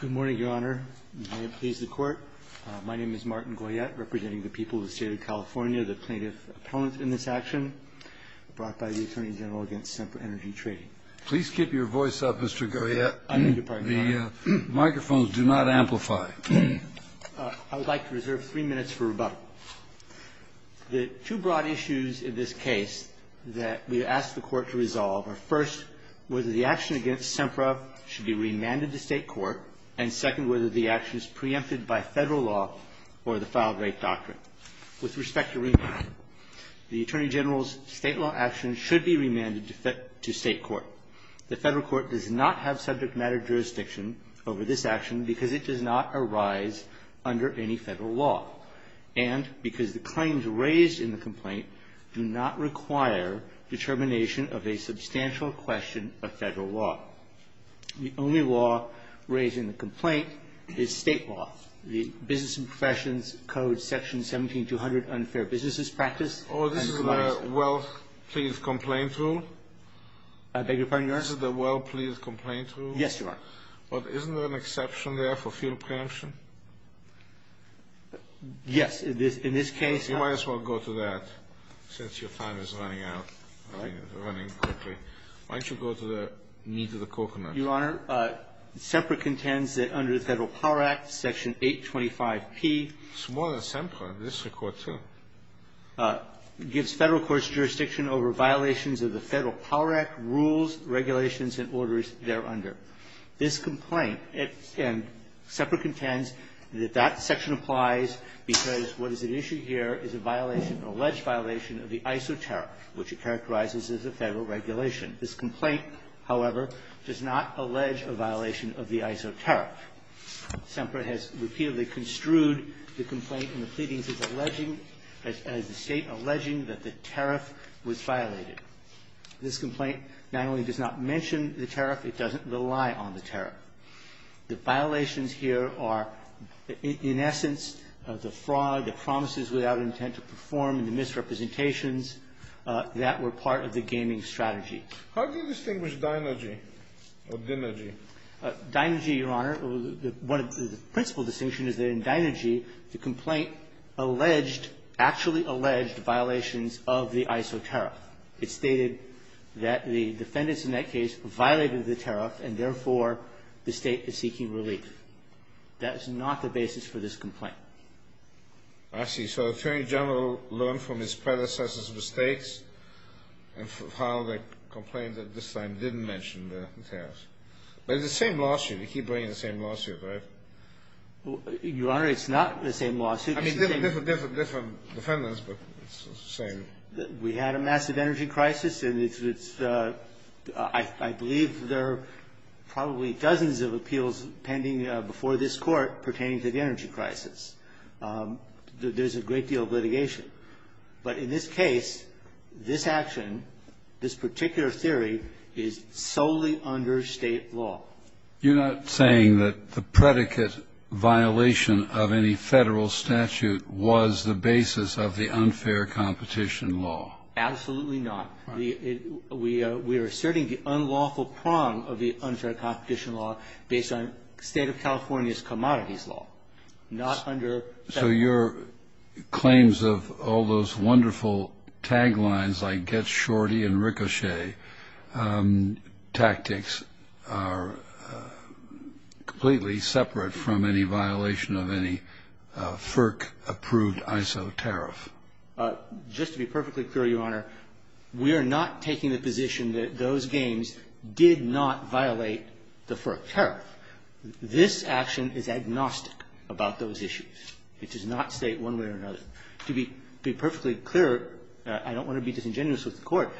Good morning, Your Honor. May it please the Court. My name is Martin Goyette, representing the people of the State of California, the plaintiff's opponents in this action, brought by the Attorney General against Sempra Energy Tradin. Please keep your voice up, Mr. Goyette. I beg your pardon, Your Honor. The microphones do not amplify. I would like to reserve three minutes for rebuttal. The two broad issues in this case that we ask the Court to resolve are, first, whether the action against Sempra should be remanded to State court, and, second, whether the action is preempted by Federal law or the filed rape doctrine. With respect to remand, the Attorney General's State law action should be remanded to State court. The Federal court does not have subject matter jurisdiction over this action because it does not arise under any Federal law. And because the claims raised in the complaint do not require determination of a substantial question of Federal law. The only law raised in the complaint is State law. The Business and Professions Code, Section 17200, Unfair Businesses Practice. Oh, this is the Well, Please Complaint Rule? I beg your pardon, Your Honor. This is the Well, Please Complaint Rule? Yes, Your Honor. Well, isn't there an exception there for field preemption? Yes. In this case you might as well go to that since your time is running out. All right. Running quickly. Why don't you go to the meat of the coconut? Your Honor, Sempra contends that under the Federal Power Act, Section 825P. It's more than Sempra. This is a court, too. Gives Federal courts jurisdiction over violations of the Federal Power Act rules, regulations, and orders thereunder. This complaint, and Sempra contends that that section applies because what is at issue here is a violation, an alleged violation of the ISO tariff, which it characterizes as a Federal regulation. This complaint, however, does not allege a violation of the ISO tariff. Sempra has repeatedly construed the complaint in the pleadings as alleging, as the State alleging that the tariff was violated. This complaint not only does not mention the tariff, it doesn't rely on the tariff. The violations here are, in essence, the fraud, the promises without intent to perform, and the misrepresentations that were part of the gaming strategy. How do you distinguish Deinergy or Dinergy? Deinergy, Your Honor, the principle distinction is that in Deinergy, the complaint alleged, actually alleged violations of the ISO tariff. It stated that the defendants in that case violated the tariff, and therefore, the State is seeking relief. That is not the basis for this complaint. I see. So the Attorney General learned from his predecessors' mistakes and filed a complaint that this time didn't mention the tariff. But it's the same lawsuit. You keep bringing the same lawsuit, right? Your Honor, it's not the same lawsuit. I mean, different defendants, but it's the same. We had a massive energy crisis, and it's the – I believe there are probably dozens of appeals pending before this Court pertaining to the energy crisis. There's a great deal of litigation. But in this case, this action, this particular theory, is solely under State law. You're not saying that the predicate violation of any Federal statute was the basis of the unfair competition law? Absolutely not. We are asserting the unlawful prong of the unfair competition law based on State of California's commodities law, not under Federal law. So your claims of all those wonderful taglines like get shorty and ricochet tactics are completely separate from any violation of any FERC-approved ISO tariff? Just to be perfectly clear, Your Honor, we are not taking the position that those games did not violate the FERC tariff. This action is agnostic about those issues. It does not state one way or another. To be perfectly clear, I don't want to be disingenuous with the Court.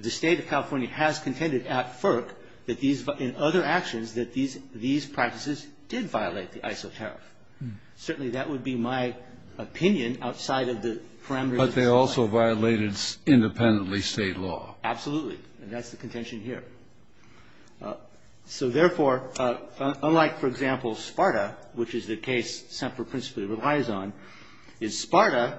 The State of California has contended at FERC that these – in other actions that these practices did violate the ISO tariff. Certainly that would be my opinion outside of the parameters of this case. But they also violated independently State law. Absolutely. And that's the contention here. So therefore, unlike, for example, SPARTA, which is the case Semper principally relies on, in SPARTA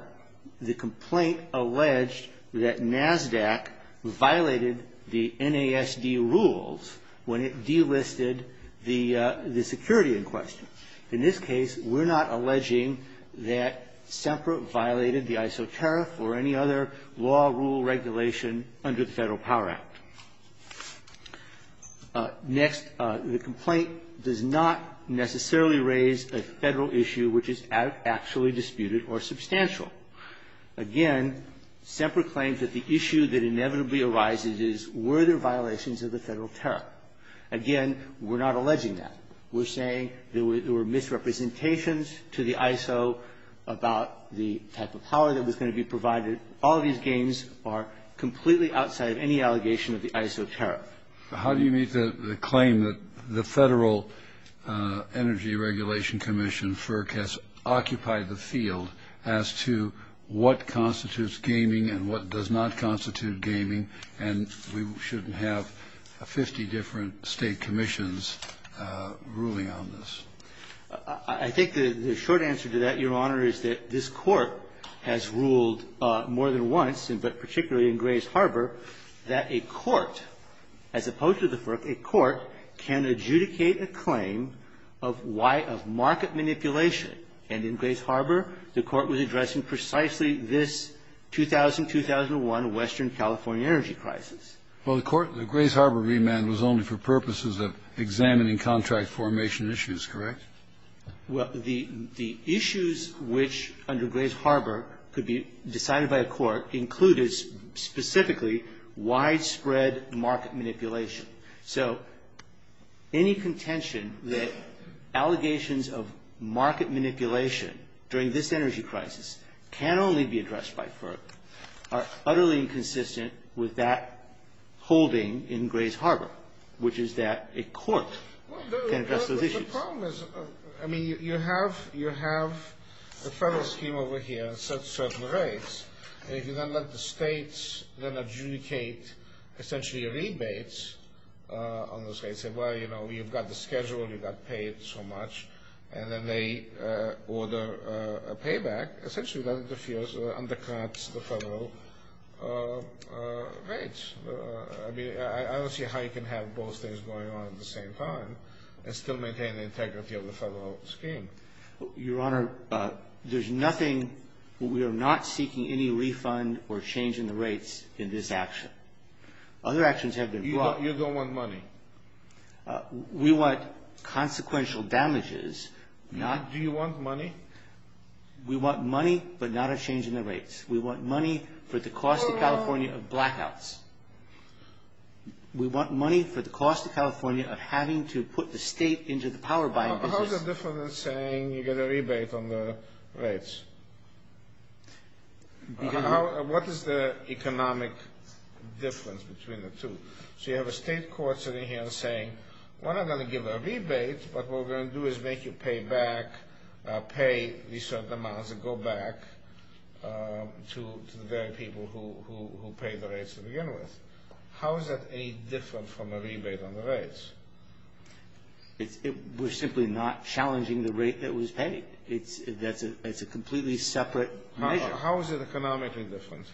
the complaint alleged that NASDAQ violated the NASD rules when it delisted the security in question. In this case, we're not alleging that Semper violated the ISO tariff or any other law, rule, regulation under the Federal Power Act. Next, the complaint does not necessarily raise a Federal issue which is actually disputed or substantial. Again, Semper claims that the issue that inevitably arises is were there violations of the Federal tariff. Again, we're not alleging that. We're saying there were misrepresentations to the ISO about the type of power that was going to be provided. All of these gains are completely outside of any allegation of the ISO tariff. How do you make the claim that the Federal Energy Regulation Commission, FERC, has occupied the field as to what constitutes gaming and what does not constitute gaming, and we shouldn't have 50 different State commissions ruling on this? I think the short answer to that, Your Honor, is that this Court has ruled more than once, but particularly in Grays Harbor, that a court, as opposed to the FERC, a court can adjudicate a claim of why of market manipulation. And in Grays Harbor, the Court was addressing precisely this 2000-2001 Western California energy crisis. Well, the Court in the Grays Harbor remand was only for purposes of examining contract formation issues, correct? Well, the issues which, under Grays Harbor, could be decided by a court include specifically widespread market manipulation. So any contention that allegations of market manipulation during this energy crisis can only be addressed by FERC are utterly inconsistent with that holding in Grays Well, the problem is, I mean, you have the Federal scheme over here at certain rates, and if you then let the States then adjudicate, essentially, a rebate on those rates, say, well, you know, you've got the schedule, you got paid so much, and then they order a payback, essentially that interferes or undercuts the Federal rates. I mean, I don't see how you can have both things going on at the same time and still maintain the integrity of the Federal scheme. Your Honor, there's nothing. We are not seeking any refund or change in the rates in this action. Other actions have been brought. You don't want money? We want consequential damages, not Do you want money? We want money, but not a change in the rates. We want money for the cost of California of blackouts. We want money for the cost of California of having to put the State into the power buying business. How is it different than saying you get a rebate on the rates? What is the economic difference between the two? So you have a State court sitting here saying, we're not going to give a rebate, but what we're going to do is make you pay back, pay these certain amounts, and go back to the very people who paid the rates to begin with. How is that any different from a rebate on the rates? We're simply not challenging the rate that was paid. It's a completely separate measure. How is it economically different?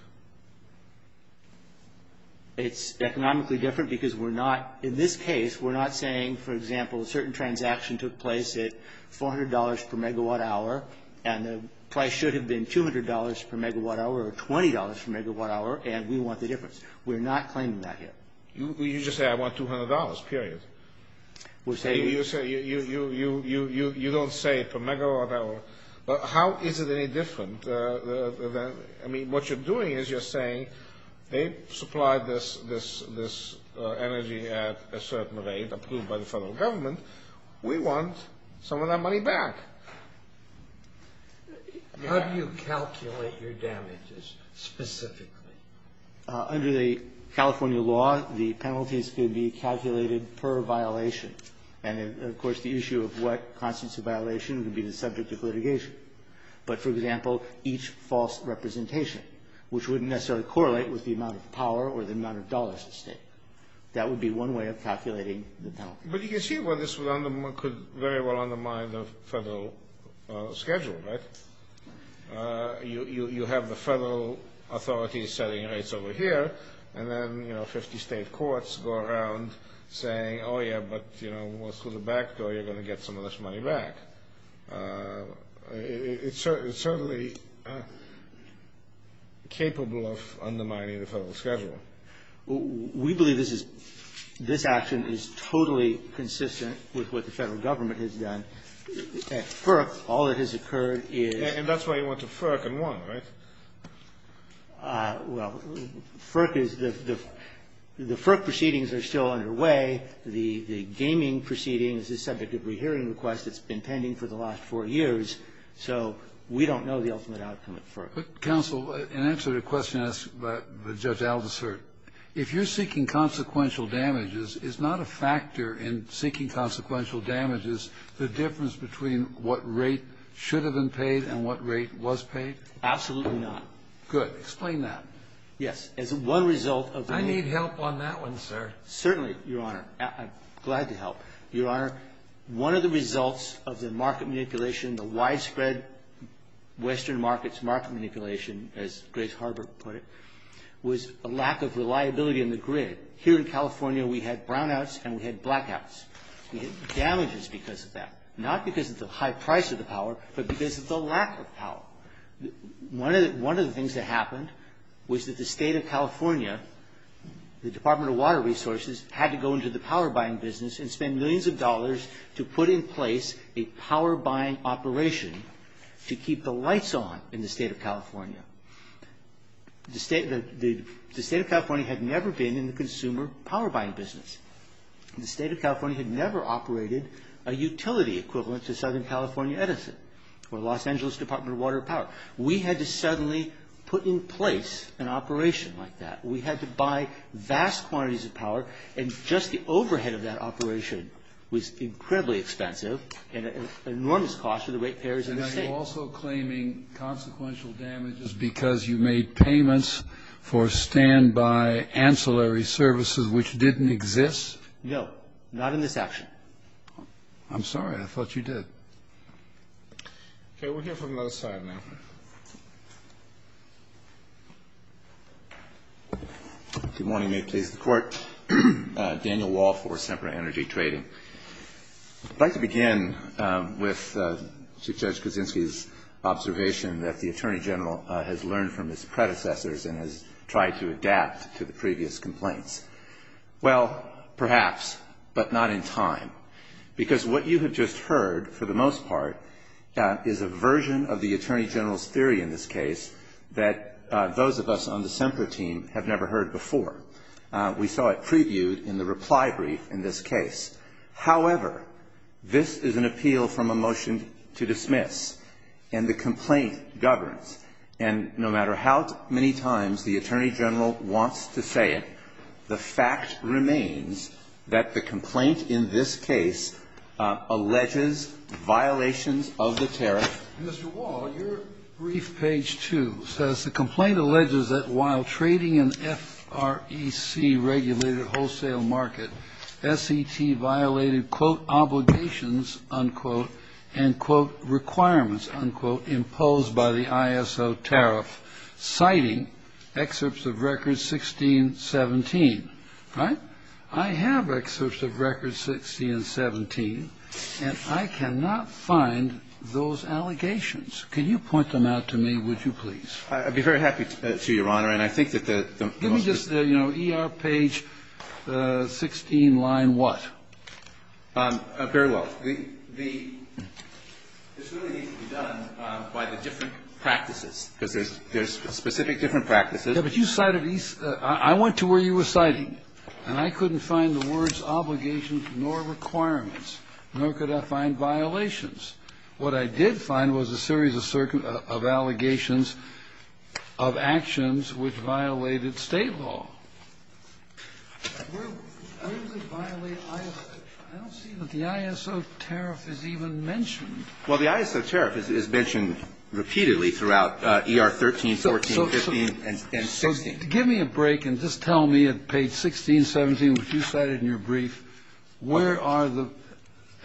It's economically different because we're not, in this case, we're not saying, for example, a certain transaction took place at $400 per megawatt hour, and the price should have been $200 per megawatt hour or $20 per megawatt hour, and we want the difference. We're not claiming that here. You just say, I want $200, period. You don't say per megawatt hour. How is it any different? I mean, what you're doing is you're saying they supplied this energy at a certain rate, approved by the federal government. We want some of that money back. How do you calculate your damages specifically? Under the California law, the penalties could be calculated per violation. And, of course, the issue of what constitutes a violation would be the subject of litigation. But, for example, each false representation, which wouldn't necessarily correlate with the amount of power or the amount of dollars the state. That would be one way of calculating the penalty. But you can see where this could very well undermine the federal schedule, right? You have the federal authorities setting rates over here, and then, you know, 50 state courts go around saying, oh, yeah, but, you know, what's with the back door, you're going to get some of this money back. It's certainly capable of undermining the federal schedule. We believe this action is totally consistent with what the federal government has done. At FERC, all that has occurred is... And that's why you went to FERC and won, right? Well, FERC is... The FERC proceedings are still underway. The gaming proceedings is subject to a rehearing request. It's been pending for the last four years. So we don't know the ultimate outcome at FERC. But, counsel, in answer to a question asked by Judge Aldersert, if you're seeking consequential damages, is not a factor in seeking consequential damages the difference between what rate should have been paid and what rate was paid? Absolutely not. Good. Explain that. Yes. As one result of the... Can you help on that one, sir? Certainly, Your Honor. I'm glad to help. Your Honor, one of the results of the market manipulation, the widespread Western markets market manipulation, as Grace Harbert put it, was a lack of reliability in the grid. Here in California, we had brownouts and we had blackouts. We had damages because of that. Not because of the high price of the power, but because of the lack of power. One of the things that happened was that the State of California, the Department of Water Resources, had to go into the power buying business and spend millions of dollars to put in place a power buying operation to keep the lights on in the State of California. The State of California had never been in the consumer power buying business. The State of California had never operated a utility equivalent to Southern We had to suddenly put in place an operation like that. We had to buy vast quantities of power, and just the overhead of that operation was incredibly expensive and an enormous cost to the rate payers in the State. And are you also claiming consequential damages because you made payments for standby ancillary services, which didn't exist? No. Not in this action. I'm sorry. I thought you did. Okay. We'll hear from the other side now. Good morning. May it please the Court. Daniel Wall for Semper Energy Trading. I'd like to begin with Chief Judge Kuczynski's observation that the Attorney General has learned from his predecessors and has tried to adapt to the previous complaints. Well, perhaps, but not in time. Because what you have just heard, for the most part, is a version of the Attorney General's theory in this case that those of us on the Semper team have never heard before. We saw it previewed in the reply brief in this case. However, this is an appeal from a motion to dismiss, and the complaint governs. And no matter how many times the Attorney General wants to say it, the fact remains that the complaint in this case alleges violations of the tariff. Mr. Wall, your brief, page 2, says, The complaint alleges that while trading in FREC-regulated wholesale market, SET violated, quote, obligations, unquote, and, quote, requirements, unquote, imposed by the ISO tariff, citing excerpts of records 16 and 17. All right? I have excerpts of records 16 and 17, and I cannot find those allegations. Can you point them out to me, would you please? I'd be very happy to, Your Honor, and I think that the most of the ---- Give me just, you know, ER page 16 line what? Very well. This really needs to be done by the different practices. There's specific different practices. Yes, but you cited these ---- I went to where you were citing, and I couldn't find the words obligations nor requirements, nor could I find violations. What I did find was a series of certain ---- of allegations of actions which violated State law. Where does it violate ISO? I don't see that the ISO tariff is even mentioned. Well, the ISO tariff is mentioned repeatedly throughout ER 13, 14, 15, and 16. So give me a break and just tell me at page 16, 17, which you cited in your brief, where are the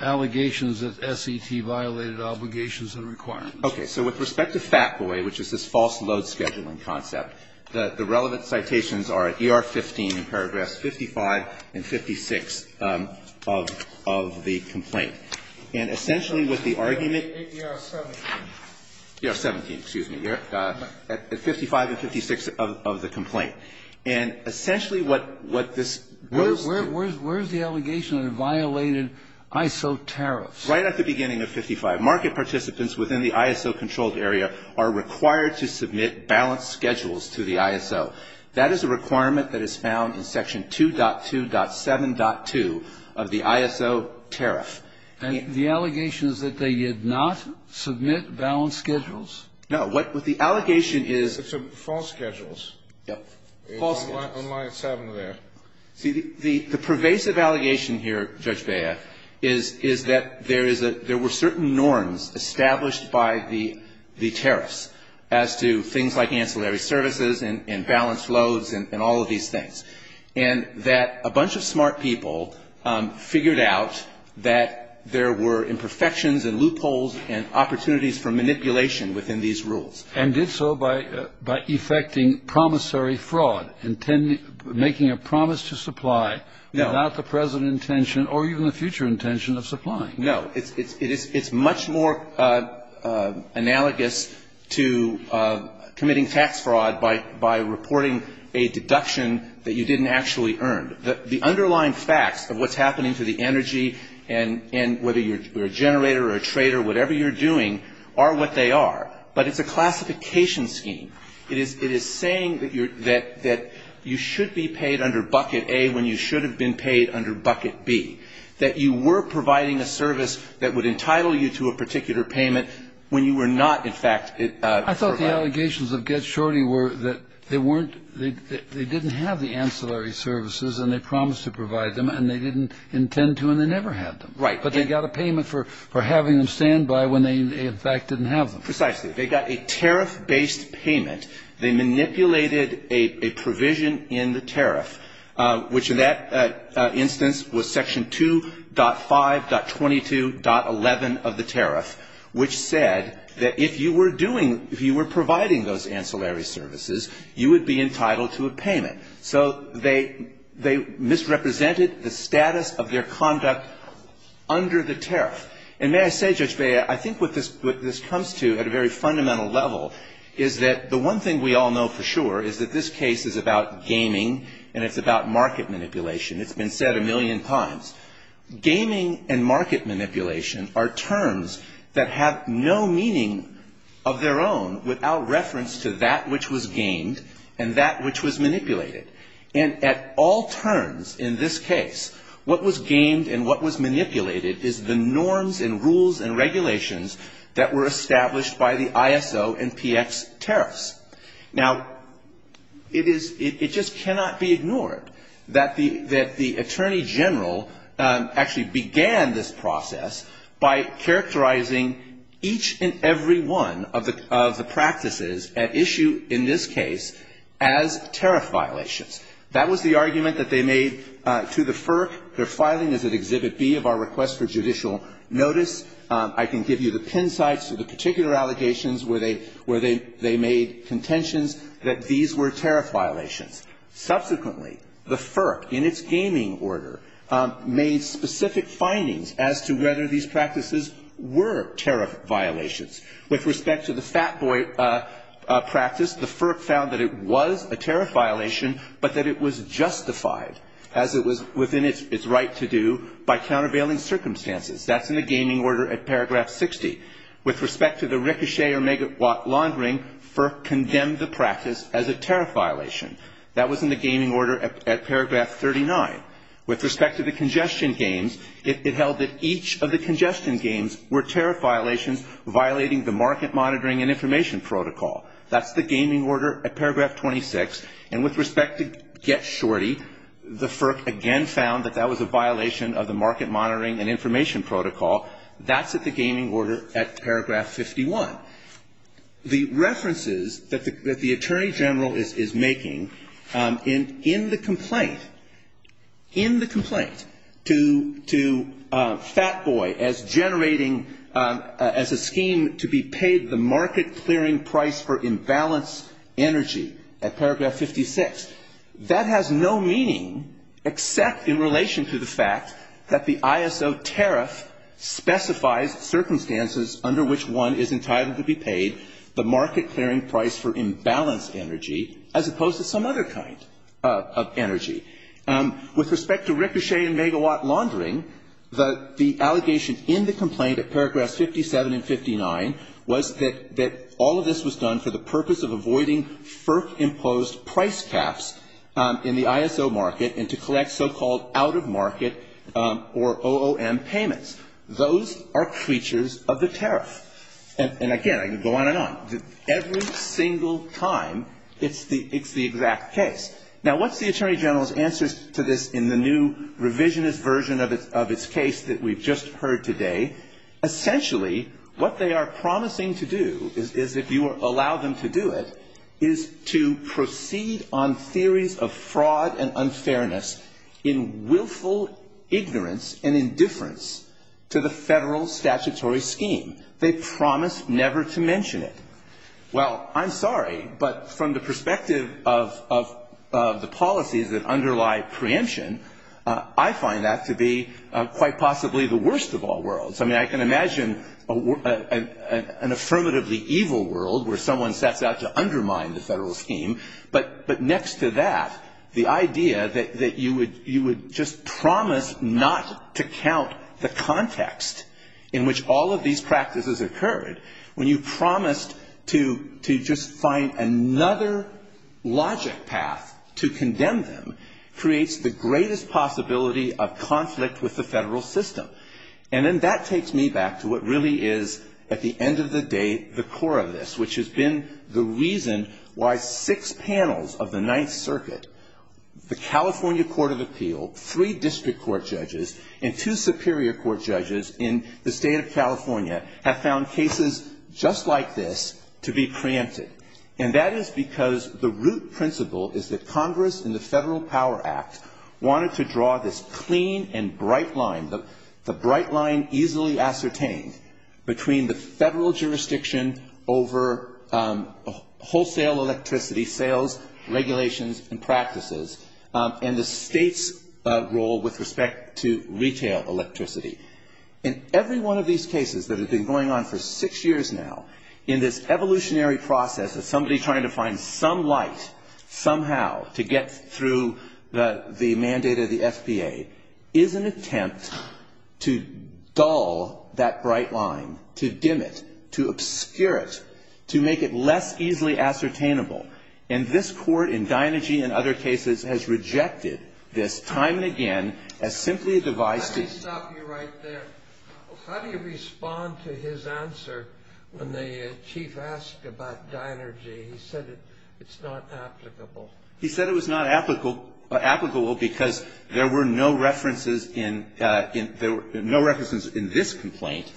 allegations that SET violated obligations and requirements? Okay. So with respect to FATCOI, which is this false load scheduling concept, the relevant citations are at ER 15 in paragraphs 55 and 56 of the complaint. And essentially with the argument ---- ER 17. ER 17, excuse me. At 55 and 56 of the complaint. And essentially what this goes to ---- Where is the allegation that it violated ISO tariffs? Right at the beginning of 55. within the ISO-controlled area are required to submit balanced schedules to the ISO. That is a requirement that is found in section 2.2.7.2 of the ISO tariff. And the allegation is that they did not submit balanced schedules? No. What the allegation is ---- It's false schedules. Yes. False schedules. On line 7 there. See, the pervasive allegation here, Judge Bea, is that there is a ---- there were certain norms established by the tariffs as to things like ancillary services and balanced loads and all of these things, and that a bunch of smart people figured out that there were imperfections and loopholes and opportunities for manipulation within these rules. And did so by effecting promissory fraud, making a promise to supply without the present intention or even the future intention of supplying. No. It's much more analogous to committing tax fraud by reporting a deduction that you didn't actually earn. The underlying facts of what's happening to the energy and whether you're a generator or a trader, whatever you're doing, are what they are. But it's a classification scheme. It is saying that you're ---- that you should be paid under bucket A when you should have been paid under bucket B, that you were providing a service that would entitle you to a particular payment when you were not, in fact, providing. I thought the allegations of Get Shorty were that they weren't ---- they didn't have the ancillary services and they promised to provide them and they didn't intend to and they never had them. But they got a payment for having them stand by when they, in fact, didn't have them. Precisely. They got a tariff-based payment. They manipulated a provision in the tariff, which in that instance was section 2.5.22.11 of the tariff, which said that if you were doing ---- if you were providing those ancillary services, you would be entitled to a payment. So they misrepresented the status of their conduct under the tariff. And may I say, Judge Bea, I think what this comes to at a very fundamental level is that the one thing we all know for sure is that this case is about gaming and it's about market manipulation. It's been said a million times. Gaming and market manipulation are terms that have no meaning of their own without reference to that which was gamed and that which was manipulated. And at all turns in this case, what was gamed and what was manipulated is the norms and rules and regulations that were established by the ISO and PX tariffs. Now, it is ---- it just cannot be ignored that the Attorney General actually began this process by characterizing each and every one of the practices at issue in this case as tariff violations. That was the argument that they made to the FERC. Their filing is at Exhibit B of our request for judicial notice. I can give you the pin sites of the particular allegations where they made contentions that these were tariff violations. Subsequently, the FERC, in its gaming order, made specific findings as to whether these practices were tariff violations. With respect to the Fat Boy practice, the FERC found that it was a tariff violation, but that it was justified as it was within its right to do by countervailing circumstances. That's in the gaming order at paragraph 60. With respect to the ricochet or megawatt laundering, FERC condemned the practice as a tariff violation. That was in the gaming order at paragraph 39. With respect to the congestion games, it held that each of the congestion games were tariff violations, violating the market monitoring and information protocol. That's the gaming order at paragraph 26. And with respect to Get Shorty, the FERC again found that that was a violation of the market monitoring and information protocol. That's at the gaming order at paragraph 51. The references that the Attorney General is making in the complaint, in the complaint to Fat Boy as generating, as a scheme to be paid the market clearing price for imbalance energy at paragraph 56. That has no meaning except in relation to the fact that the ISO tariff specifies circumstances under which one is entitled to be paid the market clearing price for imbalance energy, as opposed to some other kind of energy. With respect to ricochet and megawatt laundering, the allegation in the complaint at paragraphs 57 and 59 was that all of this was done for the purpose of avoiding FERC-imposed price caps in the ISO market and to collect so-called out-of-market or OOM payments. Those are creatures of the tariff. And again, I could go on and on. Every single time, it's the exact case. Now, what's the Attorney General's answer to this in the new revisionist version of its case that we've just heard today? Essentially, what they are promising to do is, if you allow them to do it, is to proceed on theories of fraud and unfairness in willful ignorance and indifference to the federal statutory scheme. They promise never to mention it. Well, I'm sorry, but from the perspective of the policies that underlie preemption, I find that to be quite possibly the worst of all worlds. I mean, I can imagine an affirmatively evil world where someone sets out to undermine the federal scheme. But next to that, the idea that you would just promise not to count the context in which all of these practices occurred, when you promised to just find another logic path to condemn them, creates the greatest possibility of conflict with the federal system. And then that takes me back to what really is, at the end of the day, the core of this, which has been the reason why six panels of the Ninth Circuit, the California and the State of California, have found cases just like this to be preempted. And that is because the root principle is that Congress and the Federal Power Act wanted to draw this clean and bright line, the bright line easily ascertained between the federal jurisdiction over wholesale electricity, sales, regulations and practices, and the state's role with respect to retail electricity. In every one of these cases that have been going on for six years now, in this evolutionary process of somebody trying to find some light, somehow, to get through the mandate of the FPA, is an attempt to dull that bright line, to dim it, to obscure it, to make it less easily ascertainable. And this Court, in Deinergy and other cases, has rejected this time and again as simply a device to – How do you respond to his answer when the Chief asked about Deinergy? He said it's not applicable. He said it was not applicable because there were no references in this complaint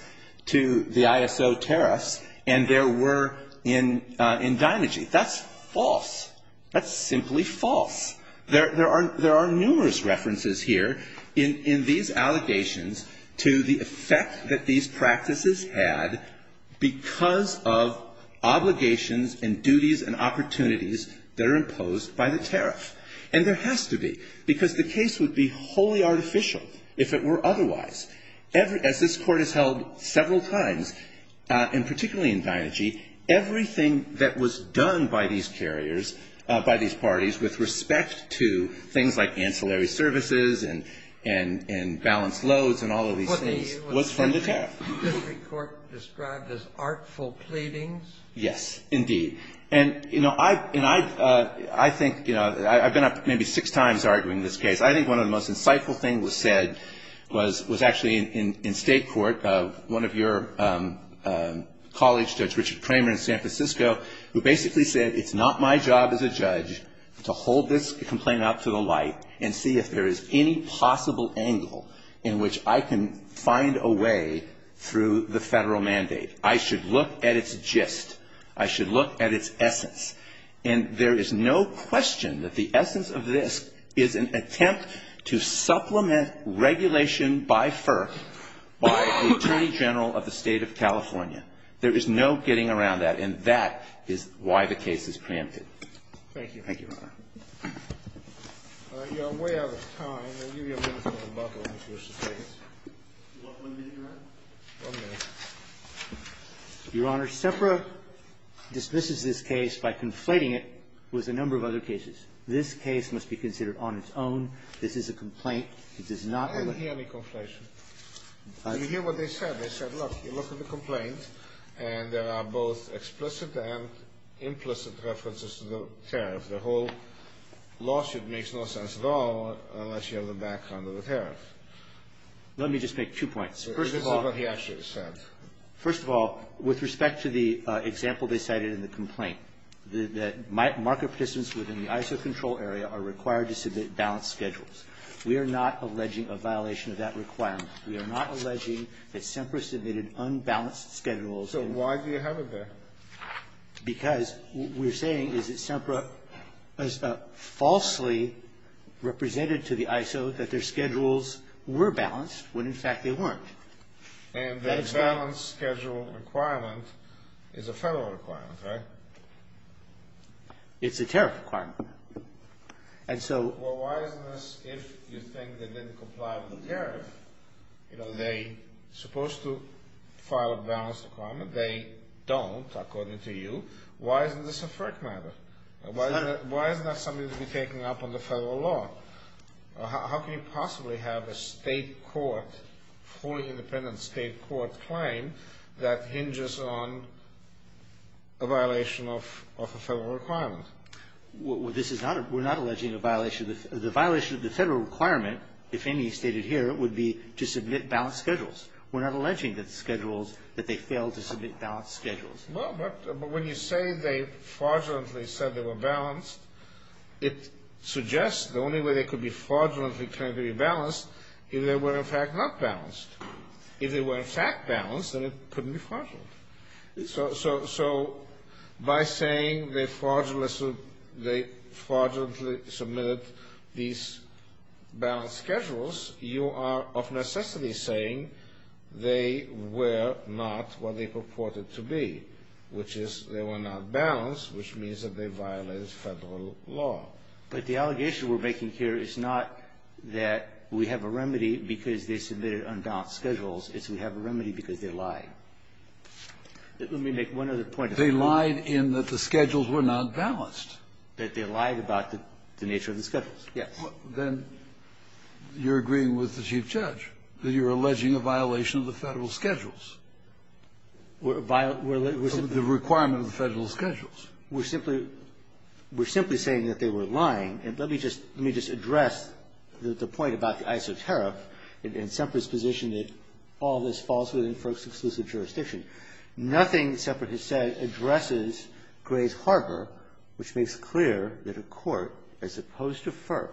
to the ISO tariffs and there were in Deinergy. That's false. That's simply false. There are numerous references here in these allegations to the effect that these practices had because of obligations and duties and opportunities that are imposed by the tariff. And there has to be, because the case would be wholly artificial if it were otherwise. As this Court has held several times, and particularly in Deinergy, everything that was done by these carriers, by these parties, with respect to things like ancillary services and balanced loads and all of these things, was funded tariff. Was this Court described as artful pleadings? Yes, indeed. And, you know, I think, you know, I've been up maybe six times arguing this case. I think one of the most insightful things was said, was actually in State Court, one of your colleagues, Judge Richard Kramer in San Francisco, who basically said it's not my job as a judge to hold this complaint up to the light and see if there is any possible angle in which I can find a way through the Federal mandate. I should look at its gist. I should look at its essence. And there is no question that the essence of this is an attempt to supplement regulation by FERC by the Attorney General of the State of California. There is no getting around that. And that is why the case is preempted. Thank you. Thank you, Your Honor. All right. We are way out of time. I'll give you a minute for rebuttal if you wish to take it. You want one minute, Your Honor? One minute. Your Honor, SEPRA dismisses this case by conflating it with a number of other cases. This case must be considered on its own. This is a complaint. I didn't hear any conflation. Did you hear what they said? They said, look, you look at the complaint and there are both explicit and implicit references to the tariff. The whole lawsuit makes no sense at all unless you have the background of the tariff. Let me just make two points. This is what he actually said. First of all, with respect to the example they cited in the complaint, that market participants within the ISO control area are required to submit balanced schedules. We are not alleging a violation of that requirement. We are not alleging that SEPRA submitted unbalanced schedules. So why do you have it there? Because what we're saying is that SEPRA falsely represented to the ISO that their schedules were balanced when, in fact, they weren't. And the balanced schedule requirement is a federal requirement, right? It's a tariff requirement. Well, why isn't this if you think they didn't comply with the tariff? You know, they're supposed to file a balanced requirement. They don't, according to you. Why isn't this a FERC matter? Why isn't that something to be taken up under federal law? How can you possibly have a state court, fully independent state court claim, that hinges on a violation of a federal requirement? We're not alleging a violation. The violation of the federal requirement, if any, stated here, would be to submit balanced schedules. We're not alleging that schedules, that they failed to submit balanced schedules. Well, but when you say they fraudulently said they were balanced, it suggests the only way they could be fraudulently claimed to be balanced is if they were, in fact, not balanced. If they were, in fact, balanced, then it couldn't be fraudulent. So by saying they fraudulently submitted these balanced schedules, you are of necessity saying they were not what they purported to be, which is they were not balanced, which means that they violated federal law. But the allegation we're making here is not that we have a remedy because they submitted unbalanced schedules. It's we have a remedy because they lied. Let me make one other point. They lied in that the schedules were not balanced. That they lied about the nature of the schedules, yes. Then you're agreeing with the Chief Judge that you're alleging a violation of the federal schedules. We're alleging the requirement of the federal schedules. We're simply saying that they were lying. And let me just address the point about the iso tariff and Semper's position that all of this falls within FERC's exclusive jurisdiction. Nothing Semper has said addresses Gray's Harbor, which makes clear that a court, as opposed to FERC,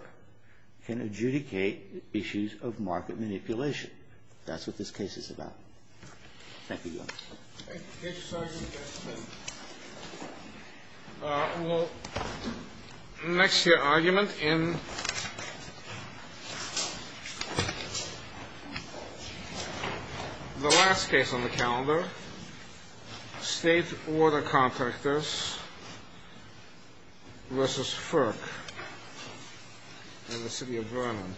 can adjudicate issues of market manipulation. That's what this case is about. Thank you, Your Honor. Thank you, Sergeant. Well, next year argument in the last case on the calendar, state order contractors versus FERC in the city of Vernon.